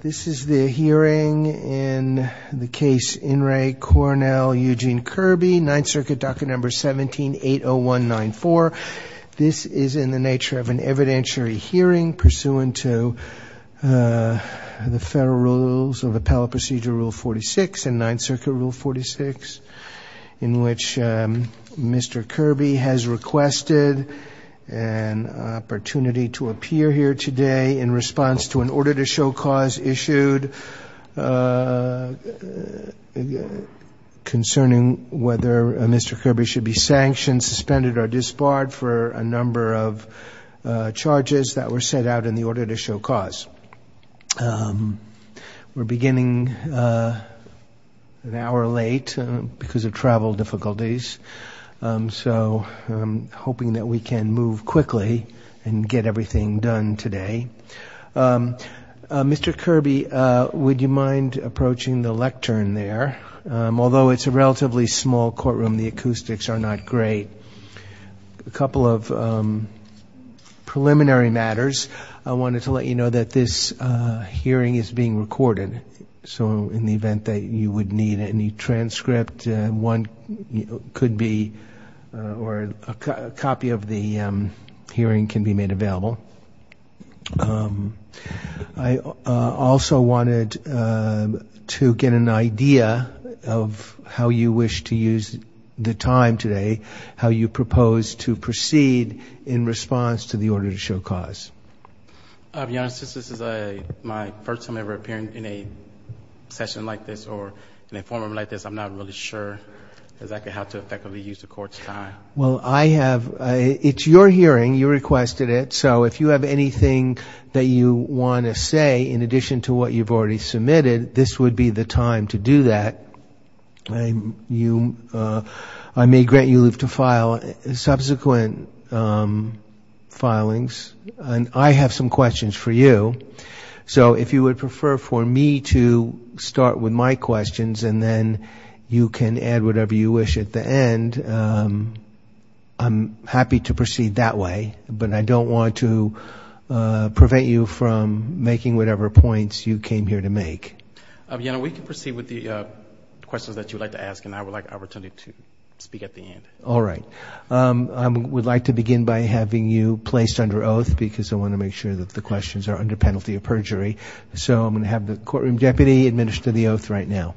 This is the hearing in the case In Re. Cornell Eugene Kirby, 9th Circuit, docket number 17-80194. This is in the nature of an evidentiary hearing pursuant to the Federal Rules of Appellate Procedure Rule 46 and 9th Circuit Rule 46, in which Mr. Kirby has requested an opportunity to appear here today in response to an order to show cause issued concerning whether Mr. Kirby should be sanctioned, suspended, or disbarred for a number of charges that were set out in the order to show cause. We're beginning an hour late because of travel difficulties, so I'm hoping that we can move quickly and get everything done today. Mr. Kirby, would you mind approaching the lectern there? Although it's a relatively small courtroom, the acoustics are not great. A couple of preliminary matters. I wanted to let you know that this hearing is being recorded, so in the event that you would need any transcript, one could be, or a copy of the hearing can be made available. I also wanted to get an idea of how you wish to use the time today, how you propose to proceed in response to the order to show cause. Your Honor, since this is my first time ever appearing in a session like this or an informant like this, I'm not really sure exactly how to effectively use the Court's time. Well, I have, it's your hearing, you requested it, so if you have anything that you want to say in addition to what you've already submitted, this would be the time to do that. I may grant you leave to file subsequent filings, and I have some questions for you. So if you would prefer for me to start with my questions and then you can add whatever you wish at the end, I'm happy to proceed that way, but I don't want to prevent you from making whatever points you came here to make. Your Honor, we can proceed with the questions that you would like to ask, and I would like opportunity to speak at the end. All right. I would like to begin by having you placed under oath, because I want to make sure that the questions are under penalty of perjury. So I'm going to have the courtroom deputy administer the oath right now.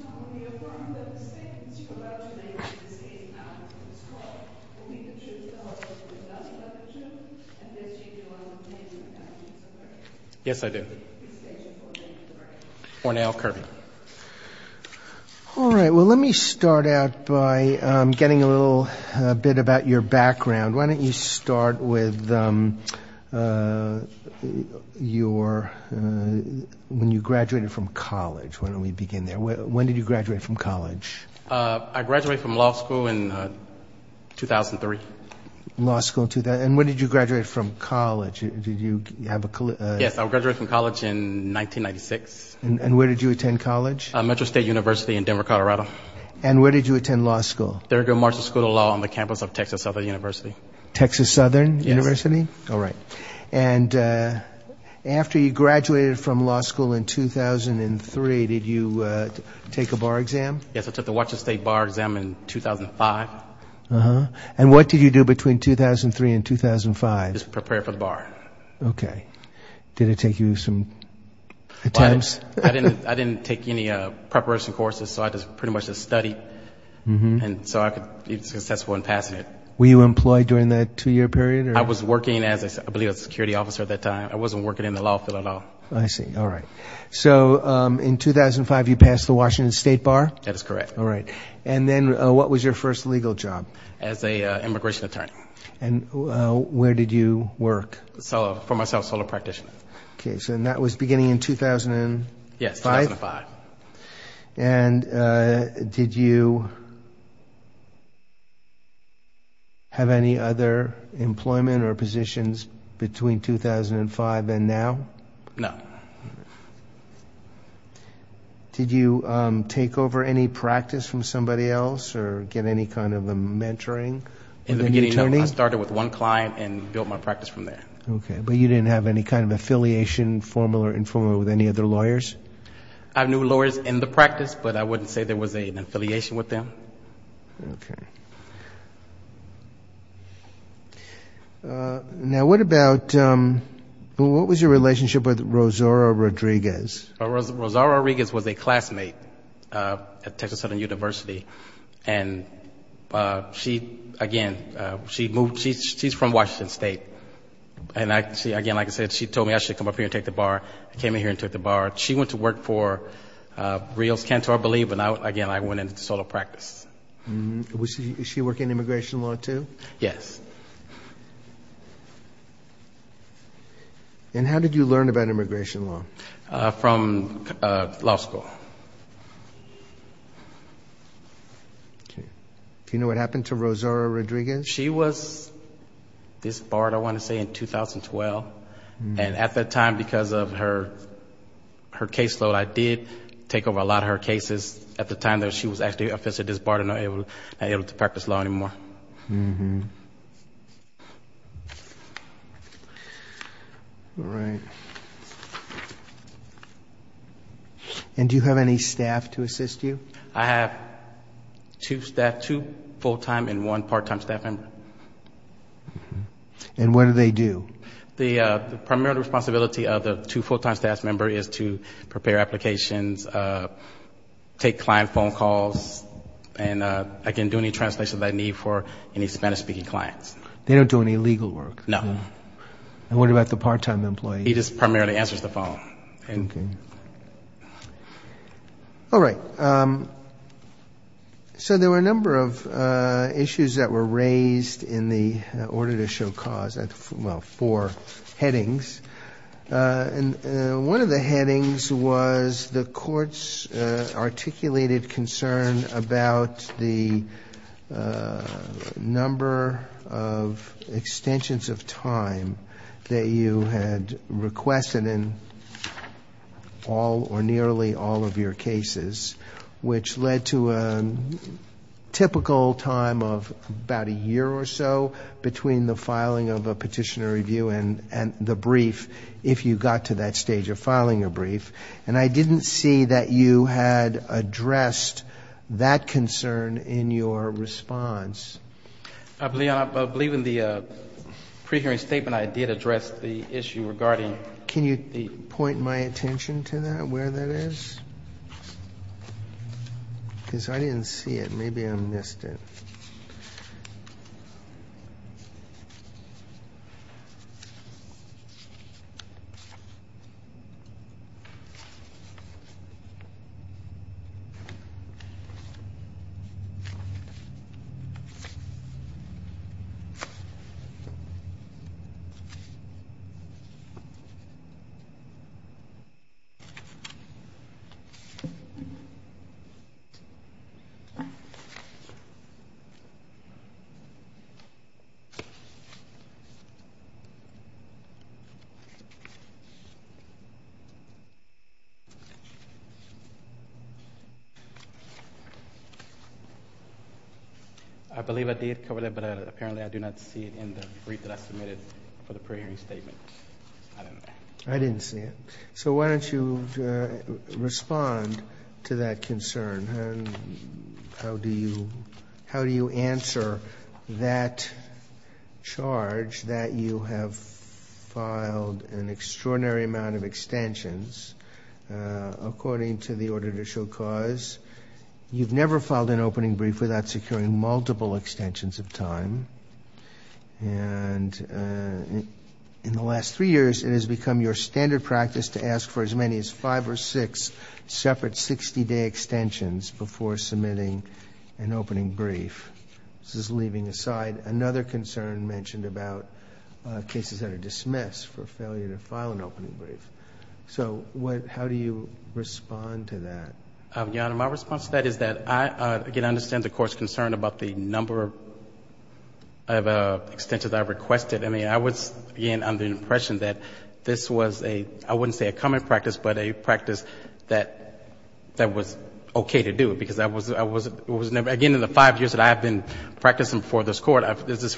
Your Honor, will you affirm that the statements you are about to make in this case after this Court will be the truth of the law, as it was announced by the judge, and that you do not intend to attack me for perjury? Yes, I do. Please state your full name for the record. Ornell Kirby. All right. Well, let me start out by getting a little bit about your background. Why don't you start with when you graduated from college? Why don't we begin there? When did you graduate from college? I graduated from law school in 2003. And when did you graduate from college? Yes, I graduated from college in 1996. And where did you attend college? Metro State University in Denver, Colorado. And where did you attend law school? Thurgood Marshall School of Law on the campus of Texas Southern University. Texas Southern University? Yes. All right. And after you graduated from law school in 2003, did you take a bar exam? Yes, I took the Washington State bar exam in 2005. And what did you do between 2003 and 2005? Just prepare for the bar. Okay. Did it take you some attempts? I didn't take any preparation courses, so I just pretty much just studied. And so I could be successful in passing it. Were you employed during that two-year period? I was working as, I believe, a security officer at that time. I wasn't working in the law field at all. I see. All right. So in 2005, you passed the Washington State bar? That is correct. All right. And then what was your first legal job? As an immigration attorney. And where did you work? For myself, solo practitioner. Okay. So that was beginning in 2005? Yes, 2005. And did you have any other employment or positions between 2005 and now? No. Did you take over any practice from somebody else or get any kind of a mentoring? In the beginning, no. I started with one client and built my practice from there. Okay. But you didn't have any kind of affiliation, formal or informal, with any other lawyers? I knew lawyers in the practice, but I wouldn't say there was an affiliation with them. Okay. Now, what was your relationship with Rosario Rodriguez? Rosario Rodriguez was a classmate at Texas Southern University. And, again, she's from Washington State. And, again, like I said, she told me I should come up here and take the bar. I came in here and took the bar. She went to work for Rios Cantor, I believe. And, again, I went into solo practice. Does she work in immigration law, too? Yes. And how did you learn about immigration law? From law school. Okay. Do you know what happened to Rosario Rodriguez? She was disbarred, I want to say, in 2012. And at that time, because of her caseload, I did take over a lot of her cases. At the time, she was actually officially disbarred and not able to practice law anymore. All right. And do you have any staff to assist you? I have two staff, two full-time and one part-time staff member. And what do they do? The primary responsibility of the two full-time staff members is to prepare applications, take client phone calls, and, again, do any translation that I need for any Spanish-speaking clients. They don't do any legal work? No. And what about the part-time employee? He just primarily answers the phone. All right. So there were a number of issues that were raised in the order to show cause, well, four headings. And one of the headings was the court's articulated concern about the number of extensions of time that you had requested in all or nearly all of your cases, which led to a typical time of about a year or so between the filing of a petitioner review and the brief, if you got to that stage of filing a brief. And I didn't see that you had addressed that concern in your response. I believe in the pre-hearing statement I did address the issue regarding the point. Can you point my attention to that, where that is? Because I didn't see it. Maybe I missed it. All right. I believe I did cover that, but apparently I do not see it in the brief that I submitted for the pre-hearing statement. I didn't see it. So why don't you respond to that concern? How do you answer that charge that you have filed an extraordinary amount of extensions according to the order to show cause? You've never filed an opening brief without securing multiple extensions of time. And in the last three years, it has become your standard practice to ask for as many as five or six separate 60-day extensions before submitting an opening brief. This is leaving aside another concern mentioned about cases that are dismissed for failure to file an opening brief. So how do you respond to that? Your Honor, my response to that is that I, again, understand the Court's concern about the number of extensions I requested. I mean, I was, again, under the impression that this was a, I wouldn't say a common practice, but a practice that was okay to do, because I was, again, in the five years that I have been practicing before this Court, this is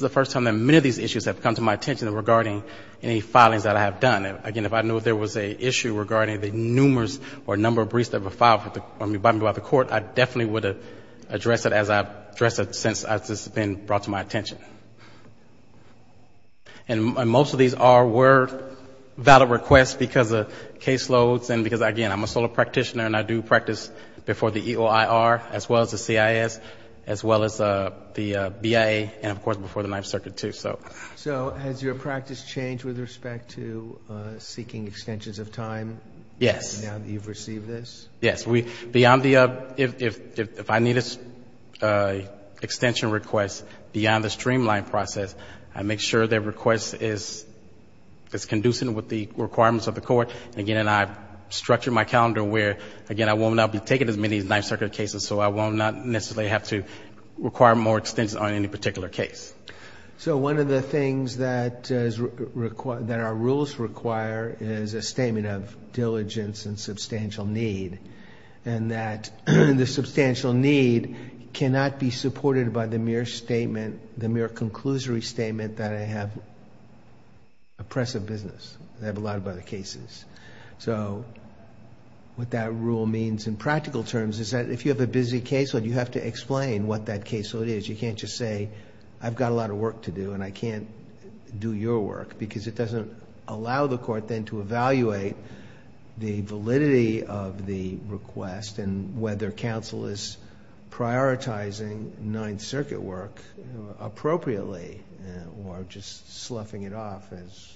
the first time that many of these issues have come to my attention regarding any filings that I have done. Again, if I knew there was an issue regarding the numerous or number of briefs that were filed by the Court, I definitely would address it as I've addressed it since this has been brought to my attention. And most of these were valid requests because of caseloads and because, again, I'm a solo practitioner and I do practice before the EOIR, as well as the CIS, as well as the BIA, and, of course, before the Ninth Circuit, too. So has your practice changed with respect to seeking extensions of time now that you've received this? Yes. If I need an extension request beyond the streamline process, I make sure that request is conducive with the requirements of the Court. Again, I've structured my calendar where, again, I will not be taking as many Ninth Circuit cases, so I will not necessarily have to do that. One of the things that our rules require is a statement of diligence and substantial need, and that the substantial need cannot be supported by the mere conclusory statement that I have oppressive business. I have a lot of other cases. What that rule means in practical terms is that if you have a busy caseload, you have to explain what that caseload is. You can't just say, I've got a lot of work to do and I can't do your work, because it doesn't allow the Court then to evaluate the validity of the request and whether counsel is prioritizing Ninth Circuit work appropriately or just sloughing it off as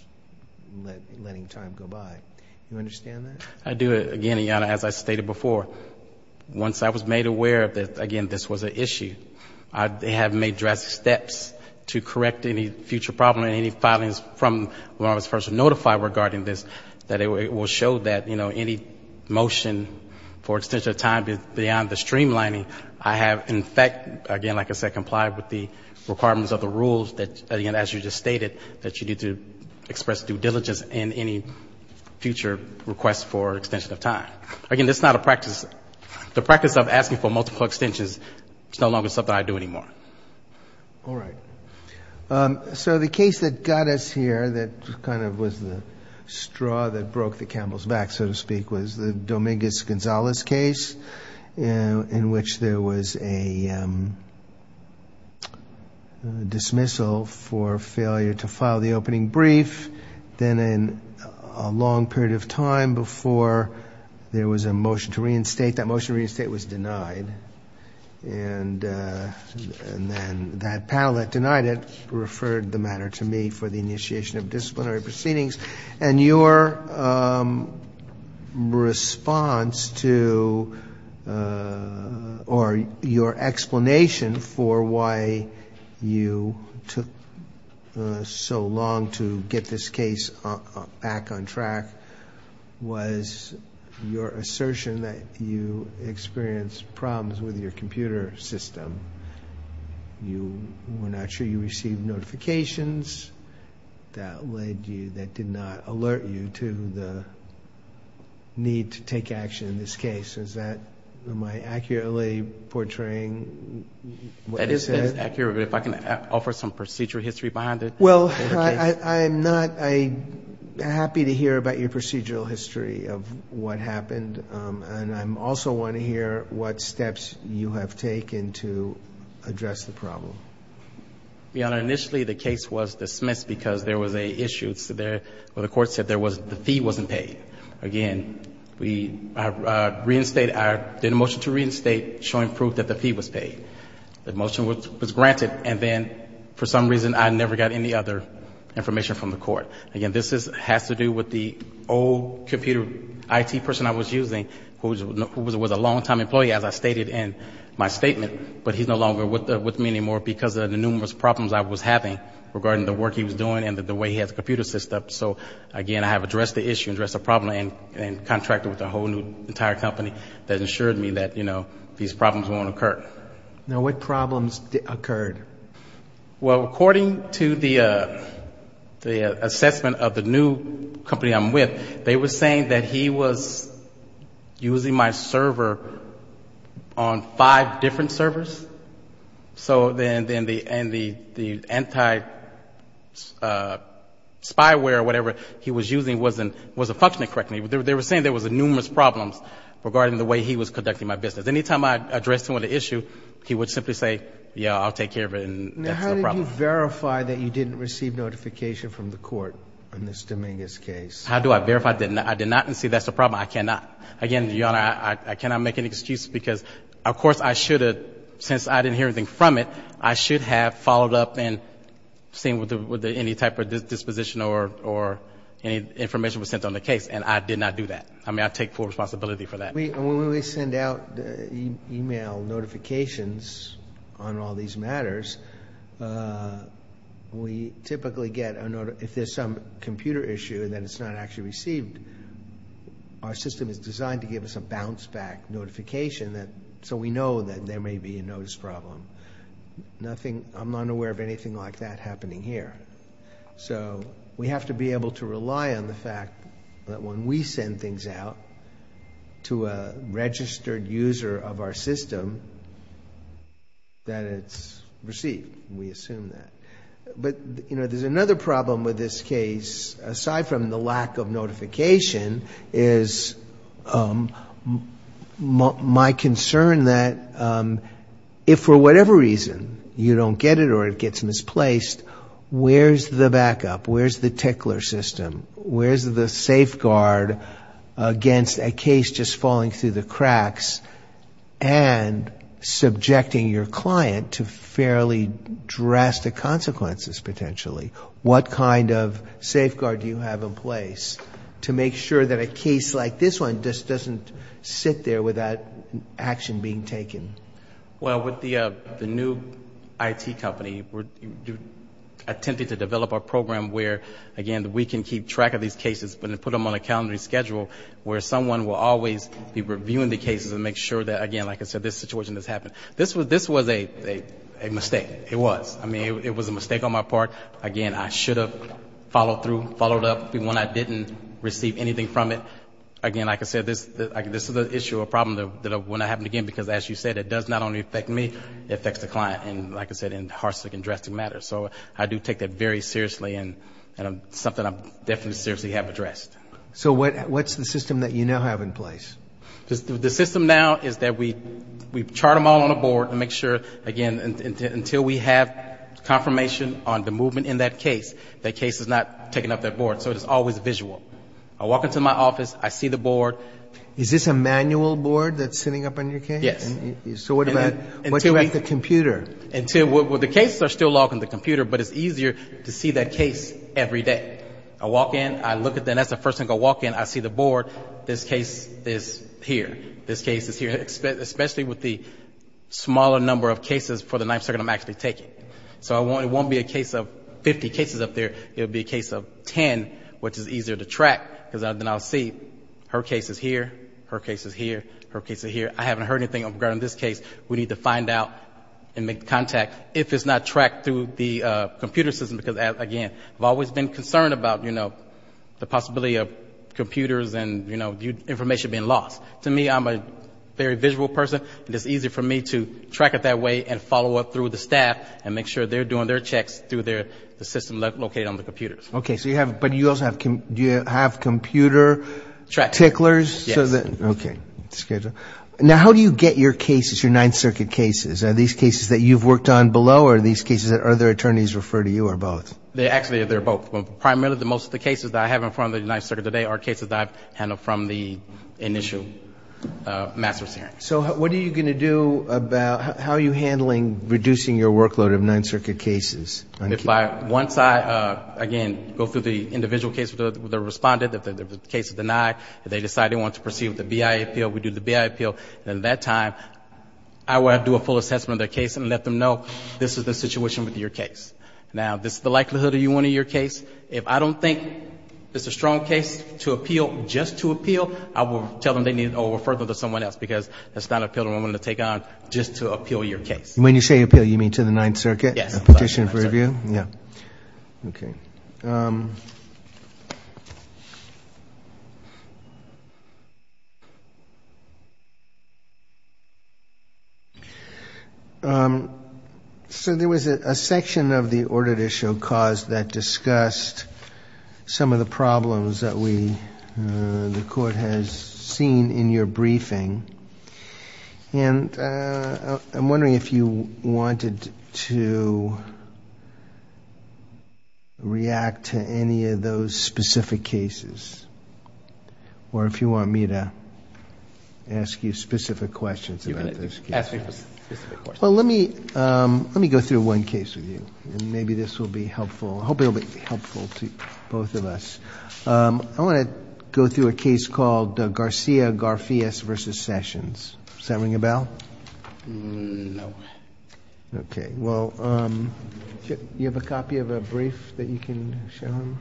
letting time go by. Do you understand that? I do, again, as I stated before. Once I was made aware that, again, this was an issue, I have made drastic steps to correct any future problem and any filings from when I was first notified regarding this, that it will show that, you know, any motion for extension of time beyond the streamlining, I have, in fact, again, like I said, complied with the requirements of the rules that, again, as you just stated, that you need to express due diligence in any case. Again, that's not a practice. The practice of asking for multiple extensions is no longer something I do anymore. All right. So the case that got us here that kind of was the straw that broke the camel's back, so to speak, was the Dominguez-Gonzalez case in which there was a dismissal for failure to file the opening brief. It was a period of time before there was a motion to reinstate. That motion to reinstate was denied, and then that panel that denied it referred the matter to me for the initiation of disciplinary proceedings. And your response to, or your explanation for why you took so long to get this case back on track, I'm not sure I can answer that. Was your assertion that you experienced problems with your computer system. You were not sure you received notifications that led you, that did not alert you to the need to take action in this case. Is that, am I accurately portraying what you said? That is accurate, but if I can offer some procedure history behind it. Well, I am not happy to hear about your procedural history of what happened, and I also want to hear what steps you have taken to address the problem. Your Honor, initially the case was dismissed because there was an issue where the court said the fee wasn't paid. Again, we did a motion to reinstate showing proof that the fee was paid. The motion was granted, and then for some reason I never got any other information from the court. Again, this has to do with the old computer IT person I was using, who was a long-time employee, as I stated in my statement, but he's no longer with me anymore because of the numerous problems I was having regarding the work he was doing and the way he had the computer system. So, again, I have addressed the issue, addressed the problem, and contracted with a whole new entire company that ensured me that, you know, these problems won't occur. Now, what problems occurred? Well, according to the assessment of the new company I'm with, they were saying that he was using my server on five different servers, so then the anti-spyware or whatever he was using wasn't functioning correctly. They were saying there was numerous problems regarding the way he was conducting my business. Because any time I addressed him with an issue, he would simply say, yeah, I'll take care of it, and that's the problem. Now, how did you verify that you didn't receive notification from the court on this Dominguez case? How do I verify I did not and see that's the problem? I cannot. Again, Your Honor, I cannot make an excuse because, of course, I should have, since I didn't hear anything from it, I should have followed up and seen whether any type of disposition or any information was sent on the case, and I did not do that. I mean, I take full responsibility for that. When we send out email notifications on all these matters, we typically get a note if there's some computer issue that it's not actually received. Our system is designed to give us a bounce-back notification, so we know that there may be a notice problem. I'm not aware of anything like that happening here. So we have to be able to rely on the fact that when we send things out to a registered user of our system, that it's received. We assume that. But, you know, there's another problem with this case, aside from the lack of notification, is my concern that if for whatever reason you don't get it or it gets misplaced, where's the backup, where's the tickler system, where's the safeguard against a case just falling through the cracks and subjecting your client to fairly drastic consequences, potentially? What kind of safeguard do you have in place to make sure that a case like this one just doesn't sit there without action being taken? Well, with the new IT company, we're attempting to develop a program where, again, we can keep track of these cases, but then put them on a calendar schedule where someone will always be reviewing the cases and make sure that, again, like I said, this situation has happened. This was a mistake. It was. I mean, it was a mistake on my part. Again, I should have followed through, followed up when I didn't receive anything from it. Again, like I said, this is an issue, a problem that will not happen again, because as you said, it does not only affect me, it affects the client, and like I said, in harsh and drastic matters. So I do take that very seriously, and it's something I definitely seriously have addressed. So what's the system that you now have in place? The system now is that we chart them all on a board and make sure, again, until we have confirmation on the movement in that case, that case is not taken up that board, so it is always visual. I walk into my office, I see the board. Is this a manual board that's sitting up on your case? Yes. So what about the computer? The cases are still logged on the computer, but it's easier to see that case every day. I walk in, I look at them, that's the first thing I walk in, I see the board, this case is here. This case is here, especially with the smaller number of cases for the ninth circuit I'm actually taking. So it won't be a case of 50 cases up there, it'll be a case of 10, which is easier to track, because then I'll see, her case is here, her case is here, her case is here. I haven't heard anything regarding this case, we need to find out and make contact if it's not tracked through the computer system, because, again, I've always been concerned about the possibility of computers and information being lost. To me, I'm a very visual person, and it's easy for me to track it that way and follow up through the staff and make sure they're doing their checks through the system located on the computers. Okay, but do you also have computer ticklers? Yes. Okay, that's good. Now, how do you get your cases, your ninth circuit cases? Are these cases that you've worked on below, or are these cases that other attorneys refer to you, or both? Actually, they're both. Primarily, most of the cases that I have in front of the ninth circuit today are cases that I've handled from the initial master's hearing. So what are you going to do about, how are you handling reducing your workload of ninth circuit cases? If I, once I, again, go through the individual case with the respondent, if the case is denied, if they decide they want to proceed with the BIA appeal, we do the BIA appeal, and at that time, I will do a full assessment of their case and let them know, this is the situation with your case. Now, this is the likelihood of you wanting your case. If I don't think it's a strong case to appeal, just to appeal, I will tell them they need to refer to someone else, because that's not an appeal I'm going to take on just to appeal your case. When you say appeal, you mean to the ninth circuit? Yes. Petition for review? Yes. So there was a section of the audit issue caused that discussed some of the problems that we, the court, has seen in your briefing. And I'm wondering if you wanted to react to any of those specific cases, or if you want me to ask you specific questions about those cases. Well, let me, let me go through one case with you, and maybe this will be helpful. I hope it will be helpful to both of us. I want to go through a case called Garcia-Garfias v. Sessions. Does that ring a bell? No. Okay. Well, do you have a copy of a brief that you can show them?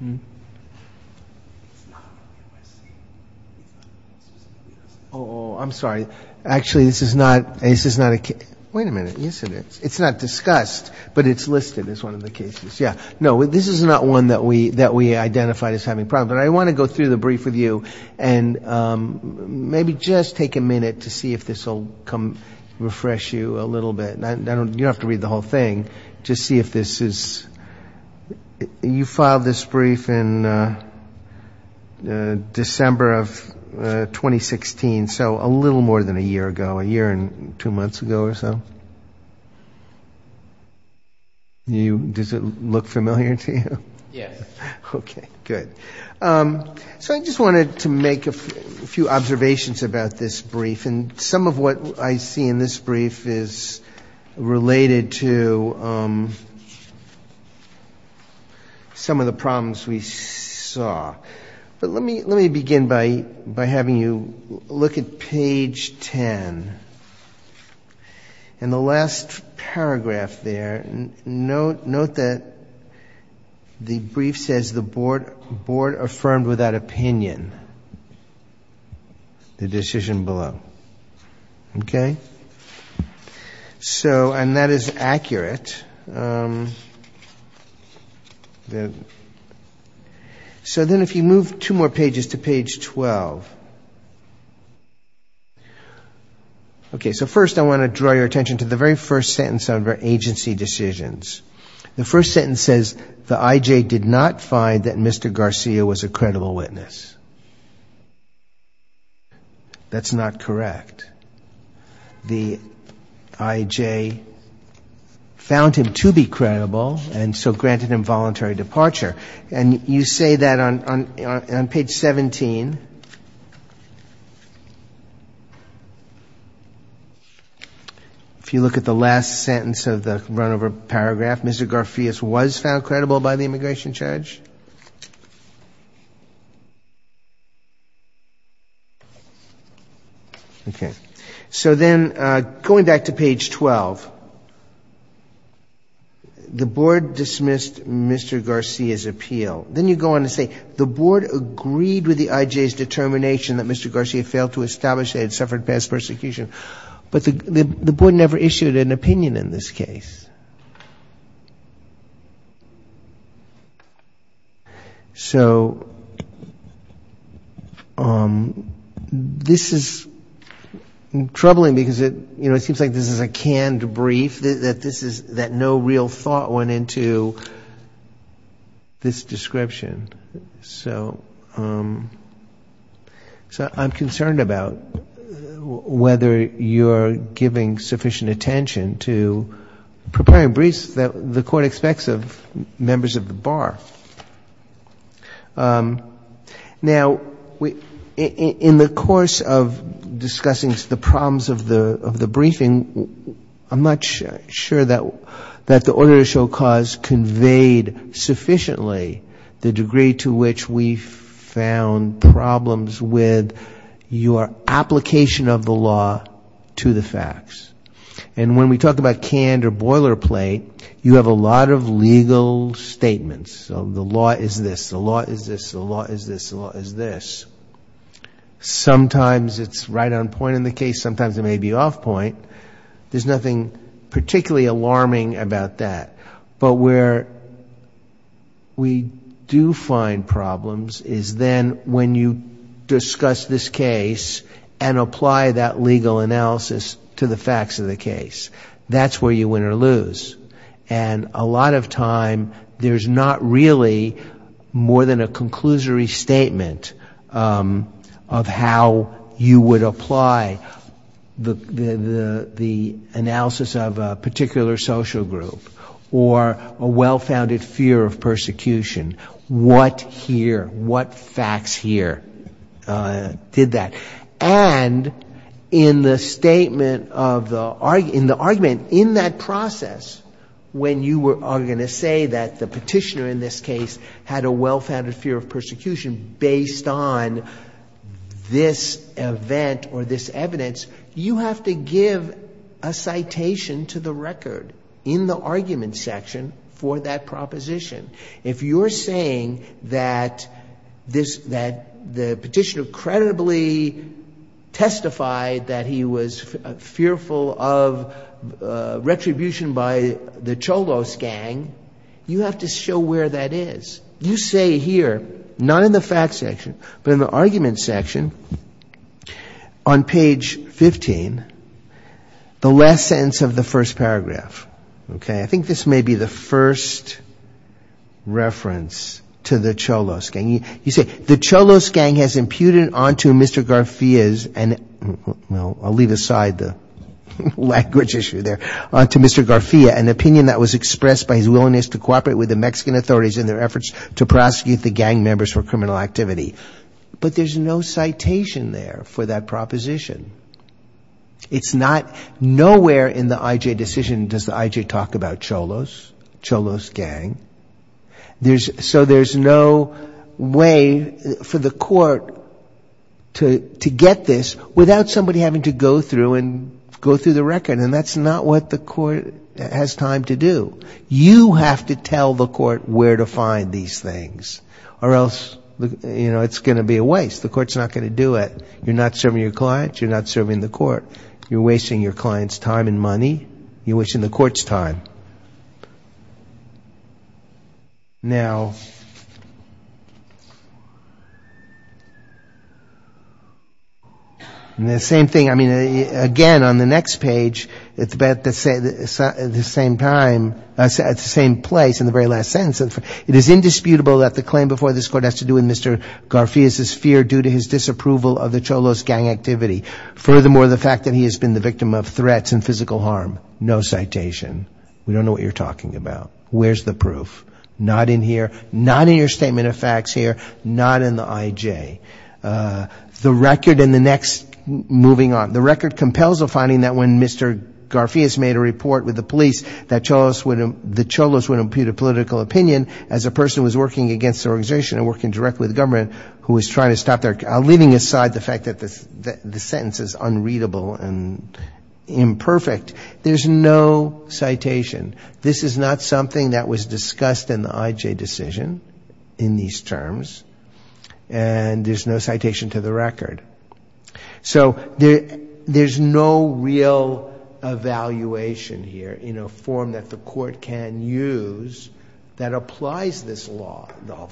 It's not a USC. It's not a USC. Oh, I'm sorry. Actually, this is not a case. Wait a minute. Yes, it is. It's not discussed, but it's listed as one of the cases. Yeah. No, this is not one that we identified as having problems. But I want to go through the brief with you, and maybe just take a minute to see if this will come, refresh you a little bit. You don't have to read the whole thing. Just see if this is, you filed this brief in December of 2016, so a little more than a year ago, a year and two months ago or so. Does it look familiar to you? Yes. Okay, good. So I just wanted to make a few observations about this brief, and some of what I see in this brief is related to some of the problems we saw. But let me begin by having you look at page 10. And the last paragraph there, note that the brief says the board affirmed without opinion the decision below. Okay? So, and that is accurate. So then if you move two more pages to page 12. Okay, so first I want to draw your attention to the very first sentence on agency decisions. The first sentence says the IJ did not find that Mr. Garcia was a credible witness. That's not correct. The IJ found him to be credible, and so granted him voluntary departure. And you say that on page 17. If you look at the last sentence of the runover paragraph, Mr. Garcia was found credible by the immigration judge. Okay, so then going back to page 12, the board dismissed Mr. Garcia's appeal. Then you go on to say the board agreed with the IJ's determination that Mr. Garcia failed to establish they had suffered past persecution. But the board never issued an opinion in this case. So this is troubling because it seems like this is a canned brief, that no real thought went into this description. So I'm concerned about whether you're giving sufficient attention to preparing briefs that the Court expects of members of the bar. Now, in the course of discussing the problems of the briefing, I'm not sure that the order to show cause conveyed sufficiently the degree to which we found problems with your application of the law to the facts. And when we talk about canned or boilerplate, you have a lot of legal statements. The law is this, the law is this, the law is this, the law is this. Sometimes it's right on point in the case, sometimes it may be off point. There's nothing particularly alarming about that. But where we do find problems is then when you discuss this case and apply that legal analysis to the facts of the case. That's where you win or lose. And a lot of time, there's not really more than a conclusory statement of how you would apply the law to the facts of the case. And that's where you lose the analysis of a particular social group or a well-founded fear of persecution. What here, what facts here did that? And in the statement of the argument, in the argument, in that process, when you are going to say that the petitioner in this case had a well-founded fear of persecution based on this event or this evidence, you have to give a citation to the record in the argument section for that proposition. If you're saying that the petitioner credibly testified that he was fearful of retribution by the Cholos gang, you have to show where that is. You say here, not in the facts section, but in the argument section, on page 15, the last sentence of the first paragraph. I think this may be the first reference to the Cholos gang. You say, the Cholos gang has imputed onto Mr. Garfia's, and I'll leave aside the language issue there, onto Mr. Garfia an opinion that was expressed by his willingness to cooperate with the Mexican authorities in their efforts to prosecute the gang members for criminal activity. But there's no citation there for that proposition. It's not, nowhere in the IJ decision does the IJ talk about Cholos, Cholos gang. So there's no way for the court to get this without somebody having to go through and go through the record. And that's not what the court has time to do. You have to tell the court where to find these things, or else it's going to be a waste. The court's not going to do it. You're not serving your client, you're not serving the court. You're wasting your client's time and money, you're wasting the court's time. Now, the same thing, I mean, again, on the next page, it's about the same time, at the same place in the very last sentence, it is indisputable that the claim before this court has to do with Mr. Garfia's fear due to his disapproval of the Cholos gang activity. Furthermore, the fact that he has been the victim of threats and physical harm. No citation. We don't know what you're talking about. Where's the proof? Not in here, not in your statement of facts here, not in the IJ. The record and the next, moving on, the record compels a finding that when Mr. Garfia's made a report with the police that the Cholos would impute a political opinion as a person who was working against the organization and working directly with the government, who was trying to stop their, leaving aside the fact that the sentence is unreadable and imperfect. There's no citation. This is not something that was discussed in the IJ decision in these terms, and there's no citation to the record. So there's no real evaluation here in a form that the court can use that applies this law, the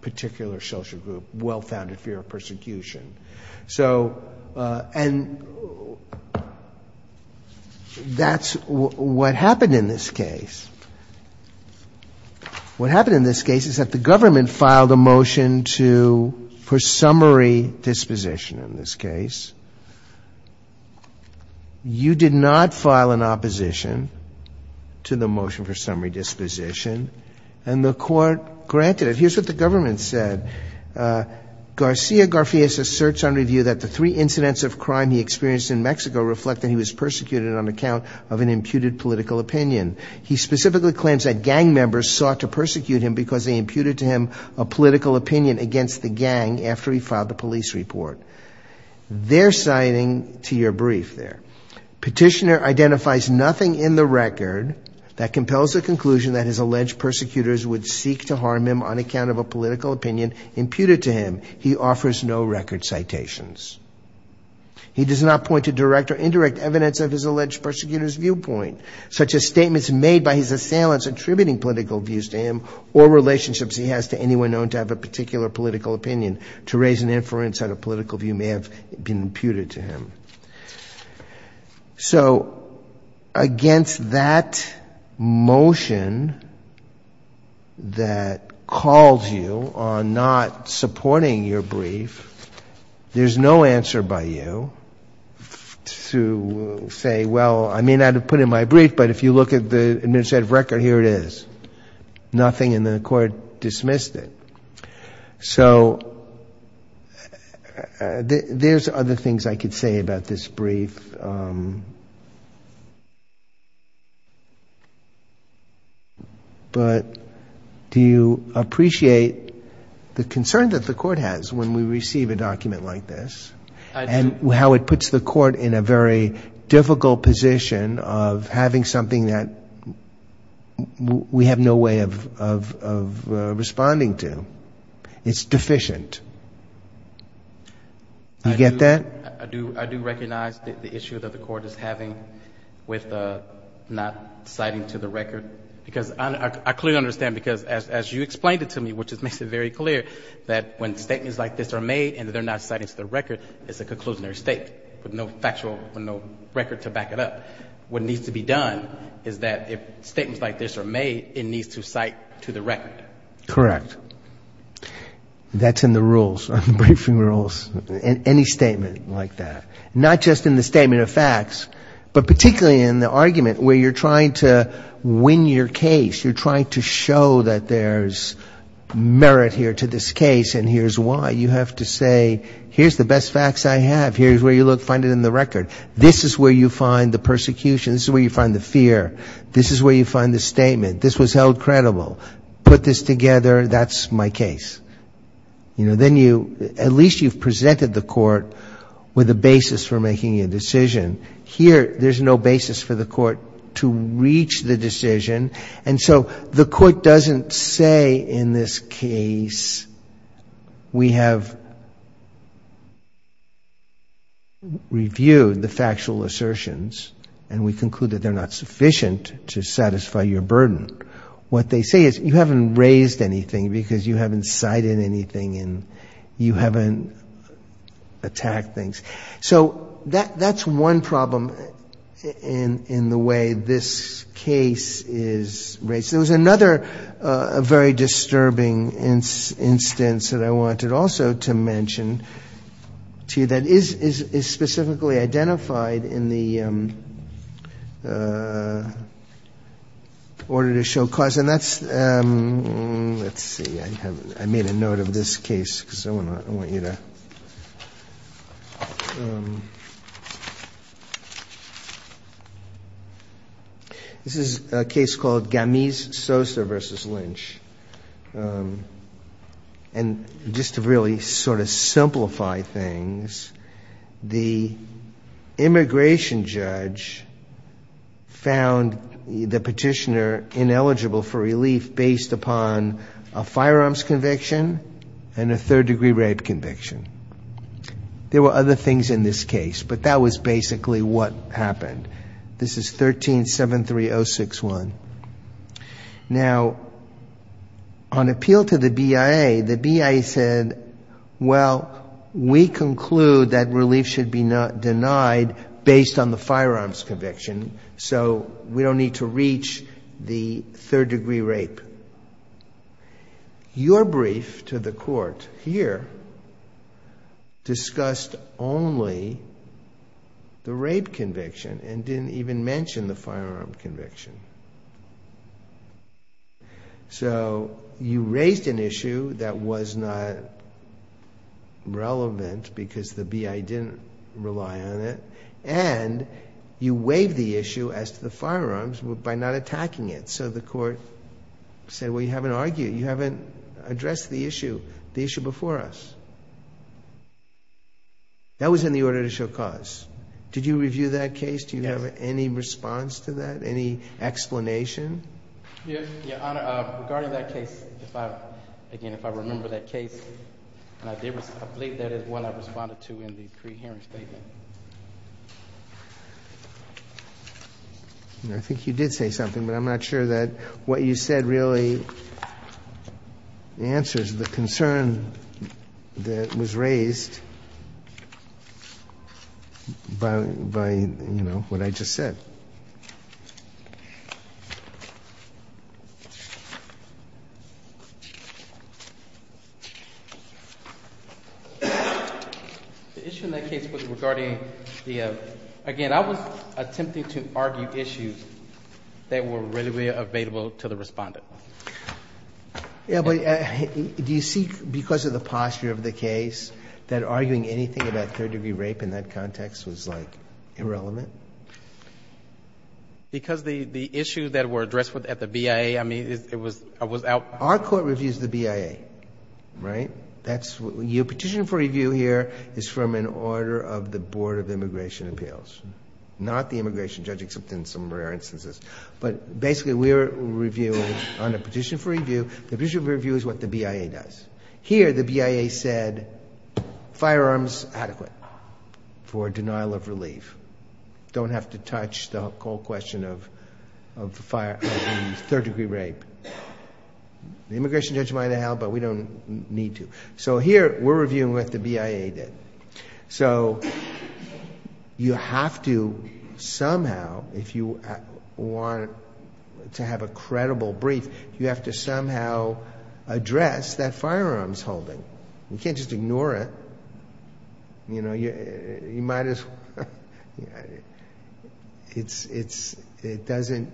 particular social group well-founded fear of persecution. So, and that's what happened in this case. What happened in this case is that the government filed a motion to, for summary disposition in this case. You did not file an opposition to the motion for summary disposition, and the court granted it. Here's what the government said. Garcia Garfias asserts on review that the three incidents of crime he experienced in Mexico reflect that he was persecuted on account of an imputed political opinion. He specifically claims that gang members sought to persecute him because they imputed to him a political opinion against the gang after he filed the police report. Their citing to your brief there. Petitioner identifies nothing in the record that compels the conclusion that his alleged persecutors would seek to harm him on account of a political opinion imputed to him. He offers no record citations. He does not point to direct or indirect evidence of his alleged persecutors' viewpoint, such as statements made by his assailants attributing political views to him, or relationships he has to anyone known to have a particular political opinion, to raise an inference that a political view may have been imputed to him. So against that motion that calls you on not supporting your brief, there's no answer by you to say, well, I may not have put in my brief, but if you look at the administrative record, here it is. Nothing, and the Court dismissed it. So there's other things I could say about this brief. But do you appreciate the concern that the Court has when we receive a document like this and how it puts the Court in a very difficult position of having something that we have no way of responding to? It's deficient. Do you get that? I do recognize the issue that the Court is having with not citing to the record, because I clearly understand, because as you explained it to me, which makes it very clear, that when statements like this are made and they're not cited to the record, it's a conclusionary statement, with no factual record to back it up. What needs to be done is that if statements like this are made, it needs to cite to the record. Correct. That's in the rules, on the briefing rules, any statement like that. Not just in the statement of facts, but particularly in the argument where you're trying to win your case, you're trying to show that there's merit here to this case and here's why. You have to say, here's the best facts I have, here's where you look, find it in the record. This is where you find the persecution, this is where you find the fear. This is where you find the statement, this was held credible. Put this together, that's my case. At least you've presented the Court with a basis for making a decision. Here, there's no basis for the Court to reach the decision, and so the Court doesn't say in this case we have reviewed the factual assertions and we conclude that they're not sufficient to satisfy your burden. What they say is you haven't raised anything because you haven't cited anything and you haven't attacked things. So that's one problem in the way this case is raised. There was another very disturbing instance that I wanted also to mention to you that is specifically identified in the order to show cause, and that's, let's see, I made a note of this case because I want you to... This is a case called Gamis-Sosa v. Lynch, and just to really sort of simplify things, the immigration judge found the petitioner ineligible for relief based upon a firearms conviction and a third-degree rape conviction. There were other things in this case, but that was basically what happened. This is 13-73061. Now, on appeal to the BIA, the BIA said, well, we conclude that relief should be denied based on the firearms conviction, so we don't need to reach the third-degree rape. Your brief to the Court here discussed only the rape conviction, and didn't even mention the firearm conviction. So you raised an issue that was not relevant because the BIA didn't rely on it, and you waived the issue as to the firearms by not attacking it, so the Court said, well, you haven't addressed the issue before us. That was in the order to show cause. Did you review that case? Do you have any response to that, any explanation? Yes, Your Honor. Regarding that case, again, if I remember that case, I believe that is what I responded to in the pre-hearing statement. I think you did say something, but I'm not sure that what you said really answers the concern that was raised by, you know, what I just said. The issue in that case was regarding the, again, I was attempting to argue issues that were readily available to the respondent. Do you see, because of the posture of the case, that arguing anything about third-degree rape in that context was, like, irrelevant? Because the issues that were addressed at the BIA, I mean, it was out... Our Court reviews the BIA, right? Your petition for review here is from an order of the Board of Immigration Appeals, not the immigration judge, except in some rare instances. But basically, we're reviewing, on a petition for review, the petition for review is what the BIA does. Here, the BIA said, firearms adequate for denial of relief. Don't have to touch the whole question of third-degree rape. The immigration judge might have held, but we don't need to. So here, we're reviewing what the BIA did. You have to somehow, if you want to have a credible brief, you have to somehow address that firearms holding. You can't just ignore it. It doesn't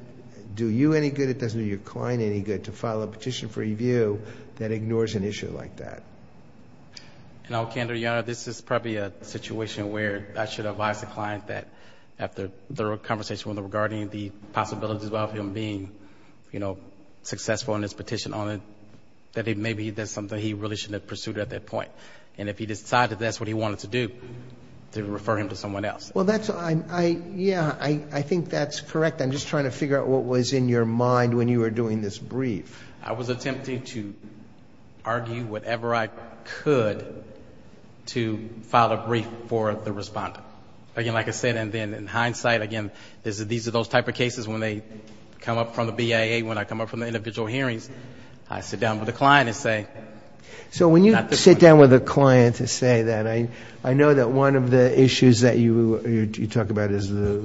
do you any good, it doesn't do your client any good to file a petition for review that ignores an issue like that. And I'll canter, Your Honor, this is probably a situation where I should advise the client that after the conversation regarding the possibilities of him being, you know, successful in his petition on it, that maybe that's something he really should have pursued at that point. And if he decided that's what he wanted to do, to refer him to someone else. Well, that's, yeah, I think that's correct. I'm just trying to figure out what was in your mind when you were doing this brief. I was attempting to argue whatever I could to file a brief for the respondent. Again, like I said, and then in hindsight, again, these are those type of cases when they come up from the BIA, when I come up from the individual hearings, I sit down with the client and say. So when you sit down with a client and say that, I know that one of the issues that you talk about is the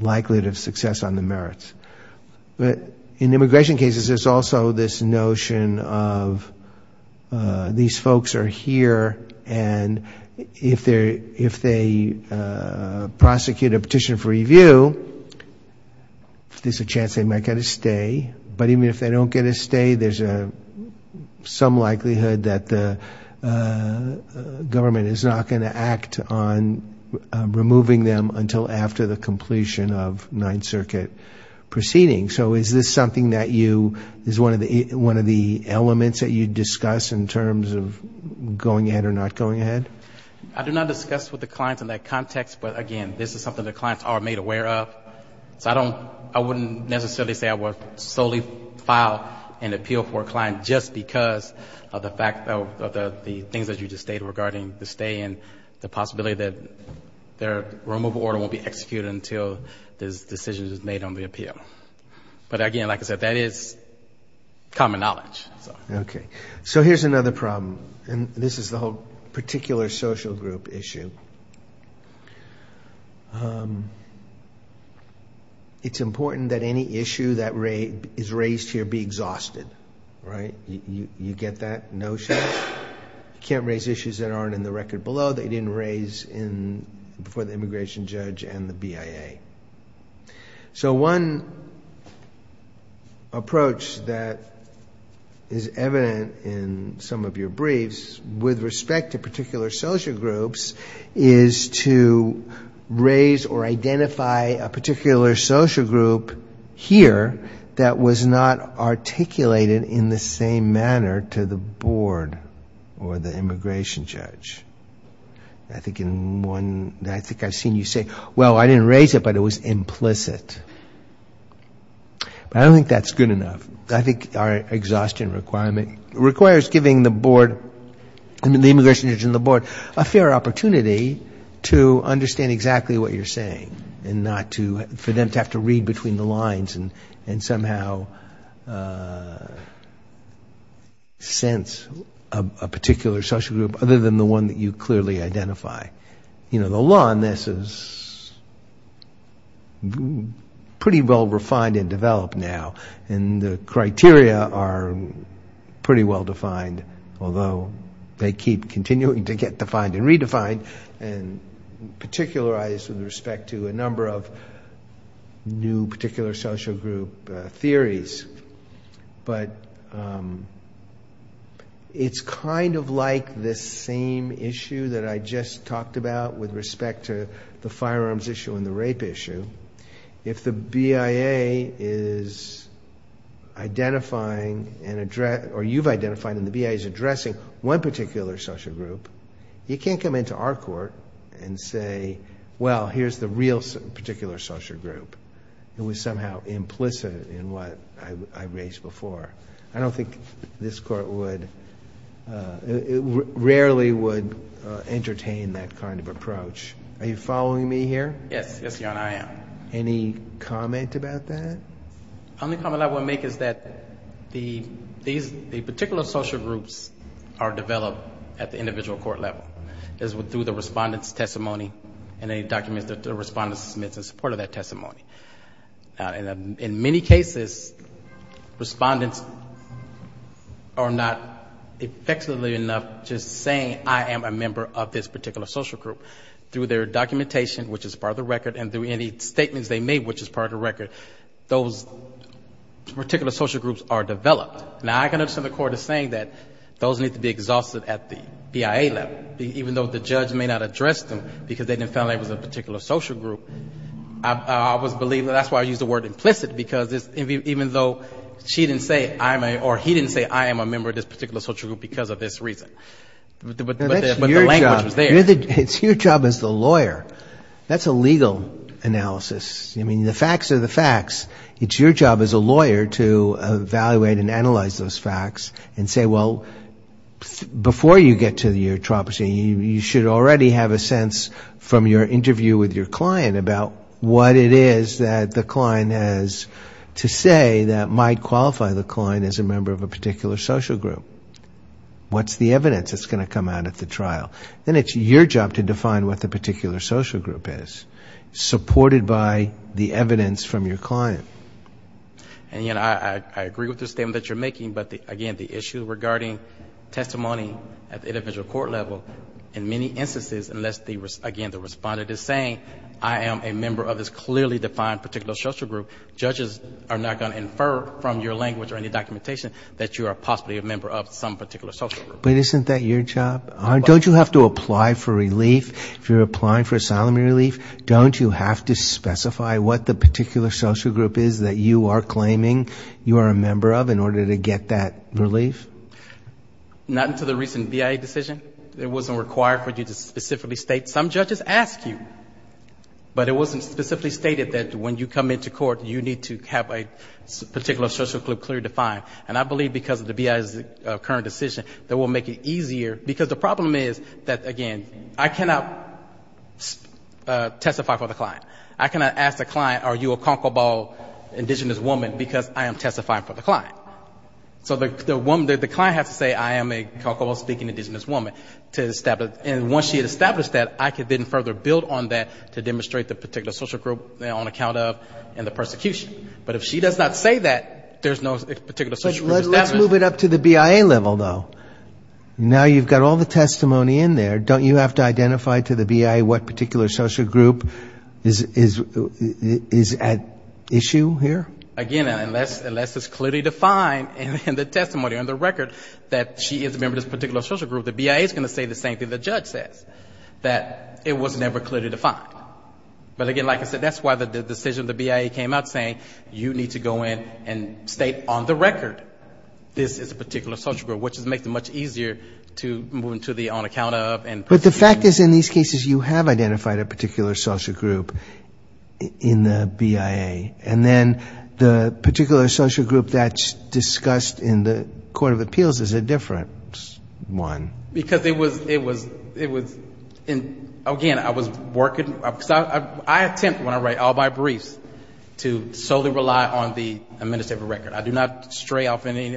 likelihood of success on the merits. But in immigration cases, there's also this notion of these folks are here, and if they prosecute a petition for review, there's a chance they might get a stay. But even if they don't get a stay, there's some likelihood that the government is not going to act on removing them until after the completion of Ninth Circuit proceeding. So is this something that you, is one of the elements that you discuss in terms of going ahead or not going ahead? I do not discuss with the clients in that context, but again, this is something the clients are made aware of. So I don't, I wouldn't necessarily say I would solely file an appeal for a client just because of the fact of the things that you just stated regarding the stay and the possibility that their removal order won't be executed until this decision is made on the appeal. But again, like I said, that is common knowledge. So here's another problem, and this is the whole particular social group issue. It's important that any issue that is raised here be exhausted, right? You get that notion? You can't raise issues that aren't in the record below that you didn't raise before the immigration judge and the BIA. So one approach that is evident in some of your briefs with respect to particular social groups is to raise or identify a particular social group here that was not articulated in the same manner to the board or the immigration judge. I think in one, I think I've seen you say, well, I didn't raise it, but it was implicit. But I don't think that's good enough. I think our exhaustion requirement requires giving the board, the immigration judge and the board, a fair opportunity to understand exactly what you're saying and not to, for them to have to read between the lines and somehow sense a particular social group, other than the one that you clearly identify. The law on this is pretty well refined and developed now, and the criteria are pretty well defined, although they keep continuing to get defined and redefined and particularized with respect to a number of new particular social group theories. But it's kind of like this same issue that I just talked about with respect to the firearms issue and the rape issue. If the BIA is identifying or you've identified and the BIA is addressing one particular social group, you can't come into our court and say, well, here's the real particular social group that was somehow implicit in what I raised before. I don't think this court would, it rarely would entertain that kind of approach. Are you following me here? Yes, yes, Your Honor, I am. Any comment about that? The only comment I would make is that the particular social groups are developed at the individual court level, through the respondent's testimony and any documents that the respondent submits in support of that testimony. In many cases, respondents are not effectively enough just saying I am a member of this particular social group. Through their documentation, which is part of the record, and through any statements they made, which is part of the record, those particular social groups are developed. Now I can understand the court is saying that those need to be exhausted at the BIA level, even though the judge may not address them because they didn't find that it was a particular social group. I always believe that's why I use the word implicit, because even though she didn't say I am a, or he didn't say I am a member of this particular social group because of this reason, but the language was there. It's your job as the lawyer. That's a legal analysis. I mean, the facts are the facts. It's your job as a lawyer to evaluate and analyze those facts and say, well, before you get to the eutroposy, you should already have a sense from your interview with your client about what it is that the client has to say that might qualify the client as a member of a particular social group. What's the evidence that's going to come out at the trial? Then it's your job to define what the particular social group is, supported by the evidence from your client. And, you know, I agree with the statement that you're making, but, again, the issue regarding testimony at the individual court level, in many instances, unless, again, the respondent is saying I am a member of this clearly defined particular social group, judges are not going to infer from your language or any documentation that you are possibly a member of some particular social group. But isn't that your job? Don't you have to apply for relief? If you're applying for asylum relief, don't you have to specify what the particular social group is that you are claiming you are a member of in order to get that relief? Not until the recent BIA decision. It wasn't required for you to specifically state. Some judges ask you, but it wasn't specifically stated that when you come into court, you need to have a particular social group clearly defined. And I believe because of the BIA's current decision, that will make it easier. Because the problem is that, again, I cannot testify for the client. I cannot ask the client, are you a Concord Ball indigenous woman, because I am testifying for the client. So the client has to say I am a Concord Ball speaking indigenous woman. And once she had established that, I could then further build on that to demonstrate the particular social group on account of and the persecution. But if she does not say that, there's no particular social group established. Let's move it up to the BIA level, though. Now you've got all the testimony in there. Don't you have to identify to the BIA what particular social group is at issue here? Again, unless it's clearly defined in the testimony or in the record that she is a member of this particular social group, she's going to say the same thing the judge says, that it was never clearly defined. But again, like I said, that's why the decision of the BIA came out saying you need to go in and state on the record this is a particular social group, which makes it much easier to move into the on account of and persecution. But the fact is in these cases you have identified a particular social group in the BIA. And then the particular social group that's discussed in the court of appeals is a different one. It was, again, I was working, I attempt when I write all my briefs to solely rely on the administrative record. I do not stray off any,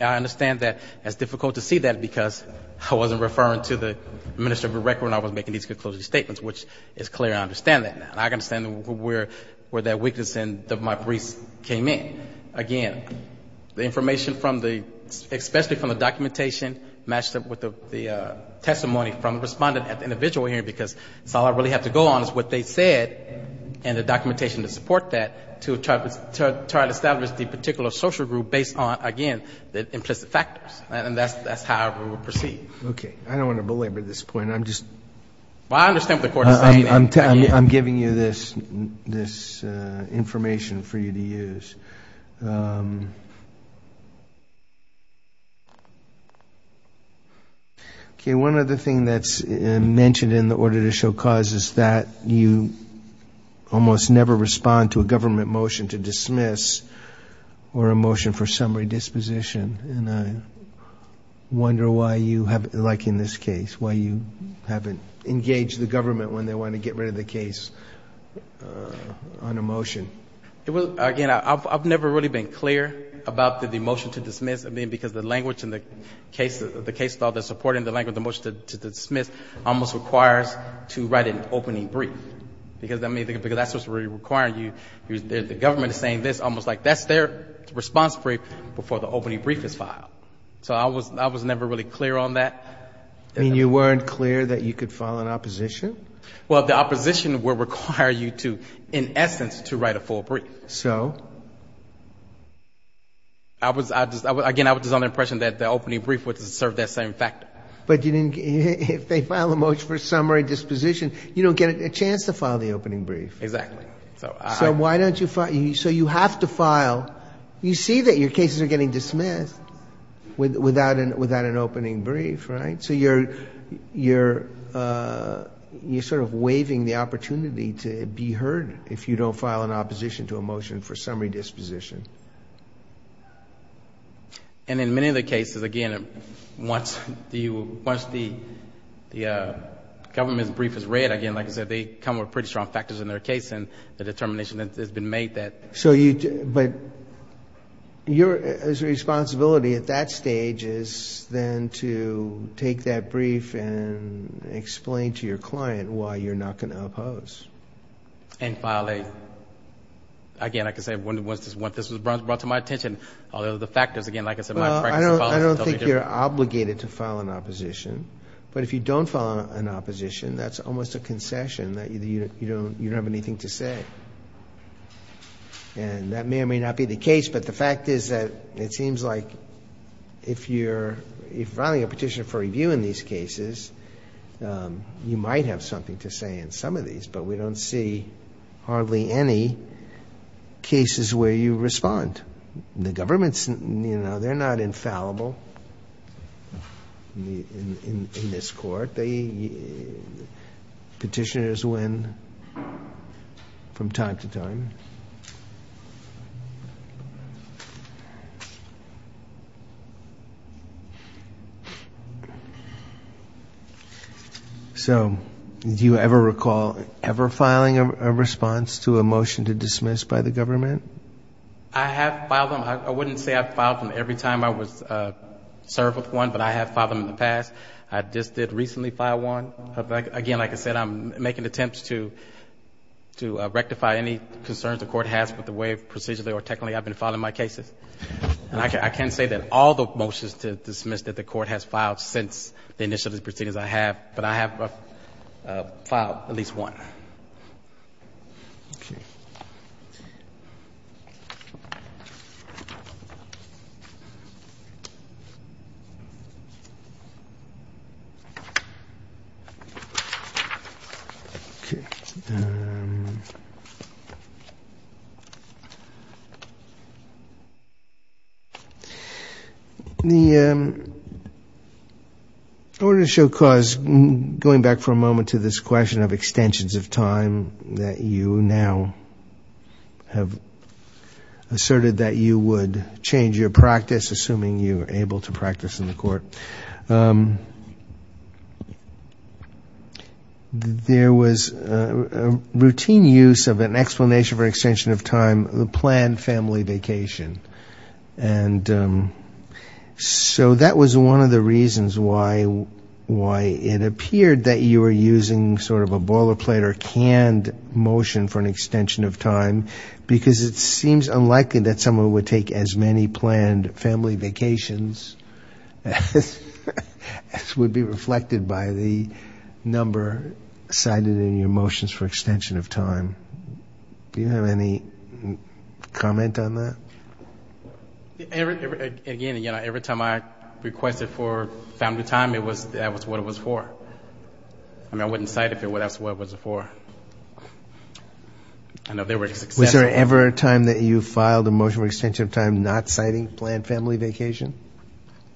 I understand that it's difficult to see that because I wasn't referring to the administrative record when I was making these conclusion statements, which is clear, I understand that now. I can understand where that weakness in my briefs came in. Again, the information from the, especially from the documentation matched up with the testimony from the respondent at the individual hearing because it's all I really have to go on is what they said and the documentation to support that to try to establish the particular social group based on, again, the implicit factors. And that's how we will proceed. Okay. I don't want to belabor this point. I'm just... Okay. One other thing that's mentioned in the order to show cause is that you almost never respond to a government motion to dismiss or a motion for summary disposition. And I wonder why you haven't, like in this case, why you haven't engaged the government when they want to get rid of the case on a motion. Again, I've never really been clear about the motion to dismiss. I mean, because the language in the case, the case that they're supporting, the language in the motion to dismiss almost requires to write an opening brief. Because, I mean, because that's what's really requiring you. The government is saying this almost like that's their response brief before the opening brief is filed. So I was never really clear on that. I mean, you weren't clear that you could file an opposition? Well, the opposition will require you to, in essence, to write a full brief. So? Again, I was under the impression that the opening brief would serve that same factor. But if they file a motion for summary disposition, you don't get a chance to file the opening brief. Exactly. So why don't you file? So you have to file. You see that your cases are getting dismissed without an opening brief, right? So you're sort of waiving the opportunity to be heard if you don't file an opposition to a motion for summary disposition. And in many of the cases, again, once the government's brief is read, again, like I said, they come with pretty strong factors in their case and the determination has been made that... But your responsibility at that stage is then to take that brief and explain to your client why you're not going to oppose. And file a... Again, like I said, this was brought to my attention. Although the factors, again, like I said... Well, I don't think you're obligated to file an opposition. But if you don't file an opposition, that's almost a lie. You don't have anything to say. And that may or may not be the case, but the fact is that it seems like if you're filing a petition for review in these cases, you might have something to say in some of these. But we don't see hardly any cases where you respond. The government's... You know, they're not infallible in this Court. But they... Petitioners win from time to time. So do you ever recall ever filing a response to a motion to dismiss by the government? I have filed them. I wouldn't say I've filed them every time I was served with one, but I have filed them in the past. I just did recently file one. Again, like I said, I'm making attempts to rectify any concerns the Court has with the way procedurally or technically I've been filing my cases. I can't say that all the motions to dismiss that the Court has filed since the initial proceedings I have, but I have filed at least one. Okay. I wanted to show cause, going back for a moment to this question of extensions of time that you now have asserted that you would change your practice, assuming you were able to practice in the Court. There was a routine use of an explanation for extension of time, the planned family vacation. And so that was one of the reasons why it appeared that you were using sort of a boilerplate or canned motion for an extension of time, because it seems unlikely that someone would take as many planned family vacations as the number cited in your motions for extension of time. Do you have any comment on that? Again, every time I requested for family time, that was what it was for. I mean, I wouldn't cite it if that's what it was for. Was there ever a time that you filed a motion for extension of time not citing planned family vacation?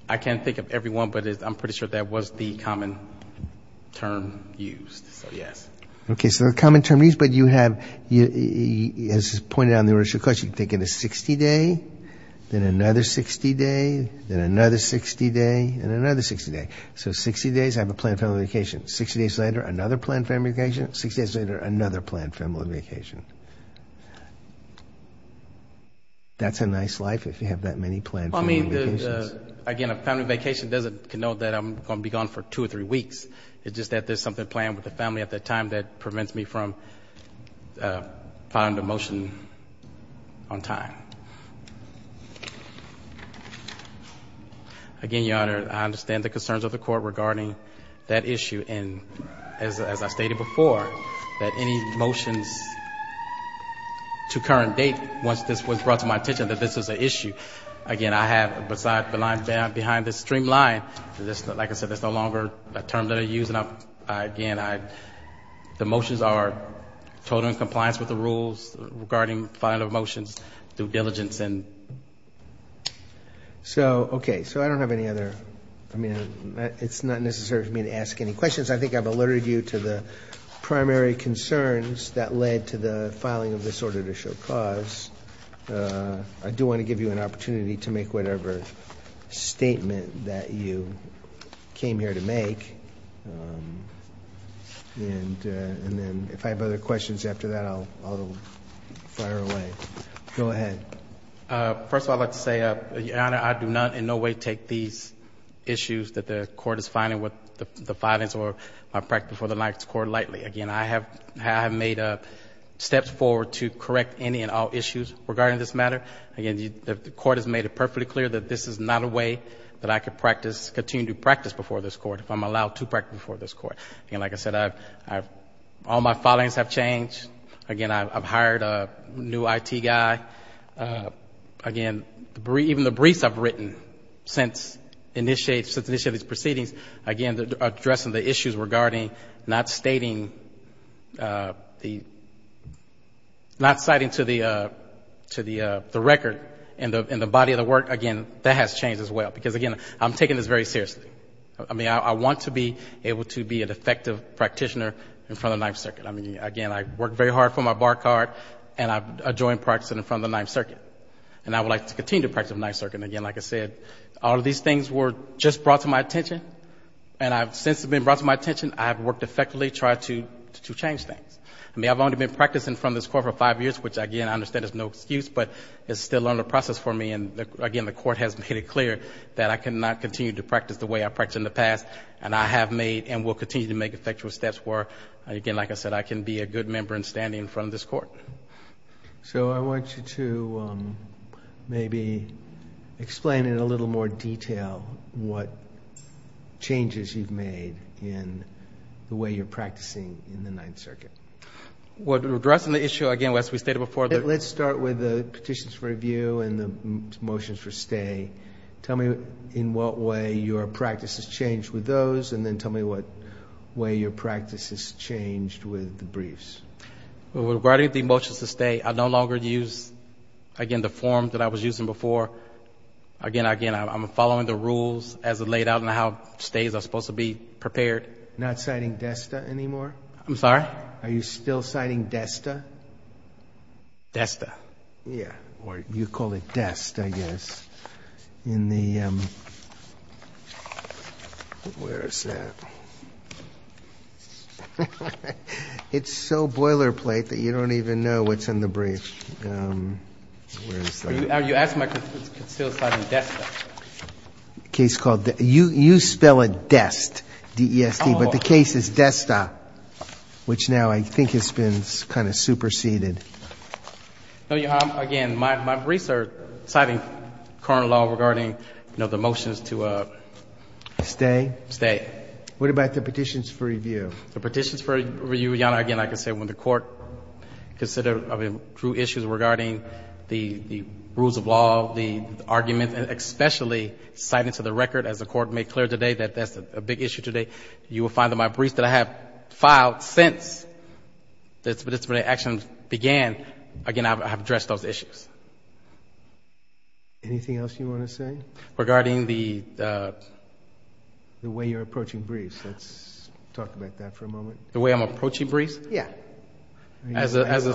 I can't think of every one, but I'm pretty sure that was the common term used. So, yes. Okay. So the common term used, but you have, as pointed out in the original question, you can take a 60-day, then another 60-day, then another 60-day, and another 60-day. So 60 days, I have a planned family vacation. 60 days later, another planned family vacation. 60 days later, another planned family vacation. That's a nice life if you have that many planned family vacations. Well, I mean, again, a family vacation doesn't denote that I'm going to be gone for two or three weeks. It's just that there's something planned with the family at that time that prevents me from filing the motion on time. Again, Your Honor, I understand the concerns of the Court regarding that issue, and as I stated before, that any motions to current date, once this was brought to my attention, that this was an issue. Again, I have, besides the line behind this streamline, like I said, that's no longer a term that I use. Again, the motions are total in compliance with the rules regarding filing of motions through diligence. So, okay. So I don't have any other, I mean, it's not necessary for me to ask any questions. I think I've alerted you to the primary concerns that led to the filing of this order to show cause. I do want to give you an opportunity to make whatever statement that you came here to make. And then if I have other questions after that, I'll fire away. Go ahead. First of all, I'd like to say, Your Honor, I do not in no way take these issues that the Court is filing, with the filings of my practice before the Ninth Court, lightly. Again, I have made steps forward to correct any and all issues regarding this matter. Again, the Court has made it perfectly clear that this is not a way that I could continue to practice before this Court, if I'm allowed to practice before this Court. And like I said, all my filings have changed. Again, I've hired a new IT guy. Again, even the briefs I've written since initiating these proceedings, again, addressing the issues regarding not citing to the record in the body of the work, again, that has changed as well, because, again, I'm taking this very seriously. I mean, I want to be able to be an effective practitioner in front of the Ninth Circuit. I mean, again, I work very hard for my bar card, and I join practice in front of the Ninth Circuit. And I would like to continue to practice in front of the Ninth Circuit. And again, like I said, all of these things were just brought to my attention, and since they've been brought to my attention, I have worked effectively to try to change things. I mean, I've only been practicing in front of this Court for five years, which, again, I understand is no excuse, but it's still under process for me. And again, the Court has made it clear that I cannot continue to practice the way I practiced in the past, and I have made and will continue to make effective steps where, again, like I said, I can be a good member in standing in front of this Court. So I want you to maybe explain in a little more detail what changes you've made in the way you're practicing in the Ninth Circuit. Well, addressing the issue, again, as we stated before. Let's start with the petitions for review and the motions for stay. Tell me in what way your practice has changed with those, and then tell me what way your practice has changed with the briefs. Well, regarding the motions to stay, I no longer use, again, the form that I was using before. Again, I'm following the rules as they're laid out and how stays are supposed to be prepared. You're not citing DESTA anymore? I'm sorry? Are you still citing DESTA? DESTA. Yeah, or you call it DEST, I guess. In the, where is that? It's so boilerplate that you don't even know what's in the brief. Where is that? You spell it DEST, D-E-S-T, but the case is DESTA, which now I think has been kind of superseded. No, Your Honor, again, my briefs are citing current law regarding, you know, the motions to stay. What about the petitions for review? The petitions for review, Your Honor, again, I can say when the Court considered, I mean, drew issues regarding the rules of law, the arguments, and especially citing to the record, as the Court made clear today, that that's a big issue today. You will find that my briefs that I have filed since the disciplinary action began, again, I have addressed those issues. Anything else you want to say? Regarding the way you're approaching briefs. Let's talk about that for a moment. The way I'm approaching briefs? Yeah. You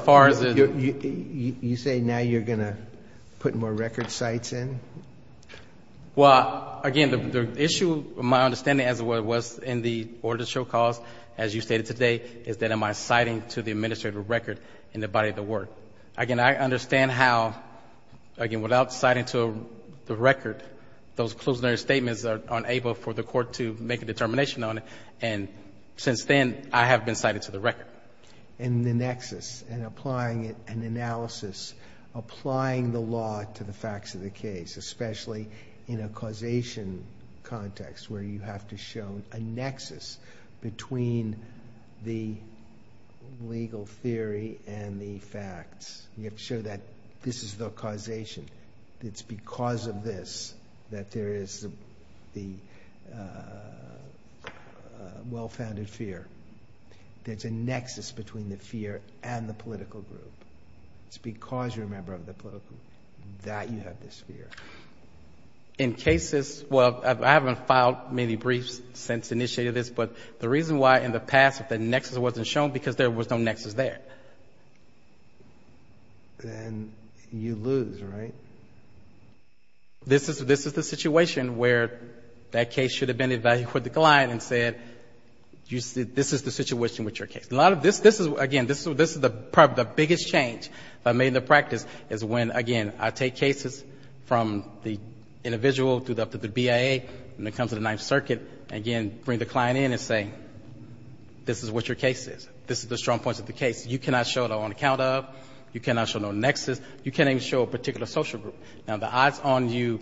say now you're going to put more record cites in? Well, again, the issue, my understanding, as it was in the order to show cause, as you stated today, is that am I citing to the administrative record in the body of the work? Again, I understand how, again, without citing to the record, those closing statements are unable for the Court to make a determination on it, and since then, I have been citing to the record. And the nexus, and applying an analysis, applying the law to the facts of the case, especially in a causation context where you have to show a nexus between the legal theory and the facts. You have to show that this is the causation. It's because of this that there is the well-founded fear. There's a nexus between the fear and the political group. It's because you're a member of the political group that you have this fear. In cases, well, I haven't filed many briefs since I initiated this, but the reason why in the past, the nexus wasn't shown, because there was no nexus there. And you lose, right? This is the situation where that case should have been evaluated with the client and said, this is the situation with your case. Again, this is the biggest change that I made in the practice, is when, again, I take cases from the individual to the BIA, and it comes to the Ninth Circuit, and again, I bring the client in and say, this is what your case is. This is the strong points of the case. You cannot show it on account of, you cannot show no nexus, you can't even show a particular social group. Now, the odds on you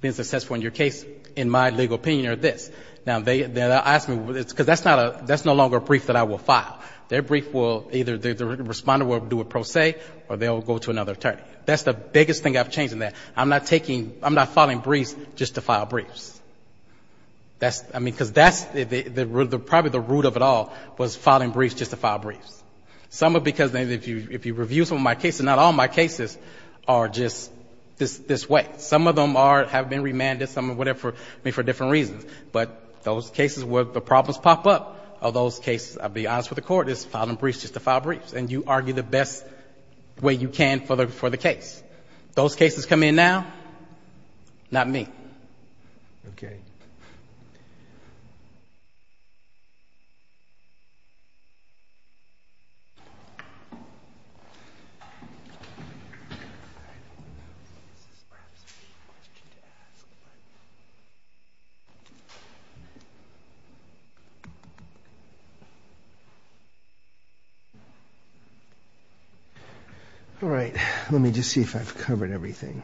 being successful in your case, in my legal opinion, are this. Now, they'll ask me, because that's no longer a brief that I will file. Their brief will, either the responder will do a pro se, or they'll go to another attorney. That's the biggest thing I've changed in that. I'm not taking, I'm not filing briefs just to file briefs. That's, I mean, because that's the, probably the root of it all, was filing briefs just to file briefs. Some are because, if you review some of my cases, not all my cases are just this way. Some of them are, have been remanded, some are whatever, I mean, for different reasons. But those cases where the problems pop up, are those cases, I'll be honest with the court, it's filing briefs just to file briefs. And you argue the best way you can for the case. Those cases come in now, not me. All right. Let me just see if I've covered everything.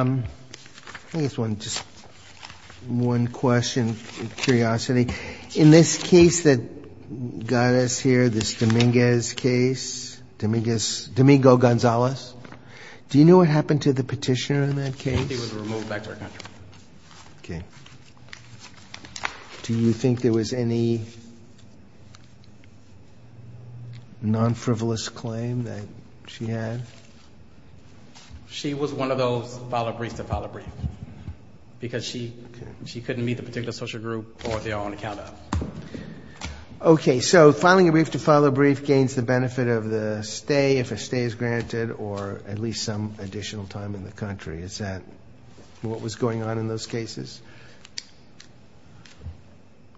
I guess one, just one question, curiosity. In this case that got us here, this Dominguez case, Dominguez, Domingo Gonzalez, do you know what happened to the petitioner in that case? Do you think there was any non-frivolous claim that she had? She was one of those file a brief to file a brief. Because she couldn't meet the particular social group or their own account. Okay, so filing a brief to file a brief gains the benefit of the stay, if a stay is granted, or at least some additional time in the country. Is that what was going on in those cases?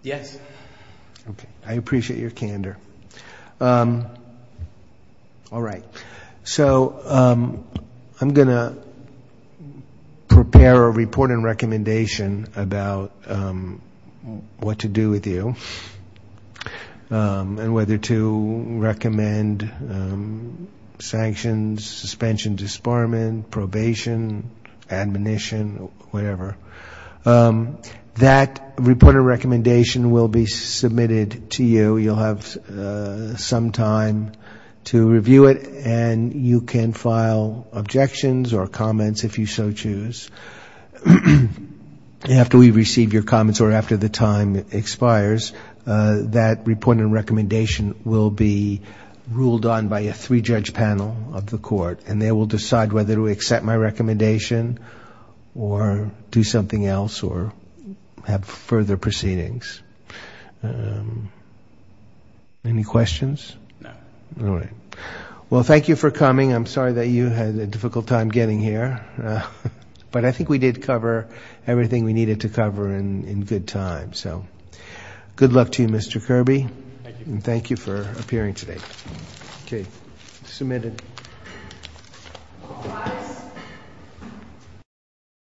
Yes. Okay, I appreciate your candor. All right. So I'm going to prepare a report and recommendation about what to do with you. And whether to recommend sanctions, suspension, disbarment, probation, admonition, whatever. That report and recommendation will be submitted to you. You'll have some time to review it. And you can file objections or comments, if you so choose. After we receive your comments or after the time expires, that report and recommendation will be ruled on by a three-judge panel of the court. And they will decide whether to accept my recommendation or do something else or have further proceedings. Any questions? No. All right. Well, thank you for coming. I'm sorry that you had a difficult time getting here. But I think we did cover everything we needed to cover in good time. So good luck to you, Mr. Kirby, and thank you for appearing today.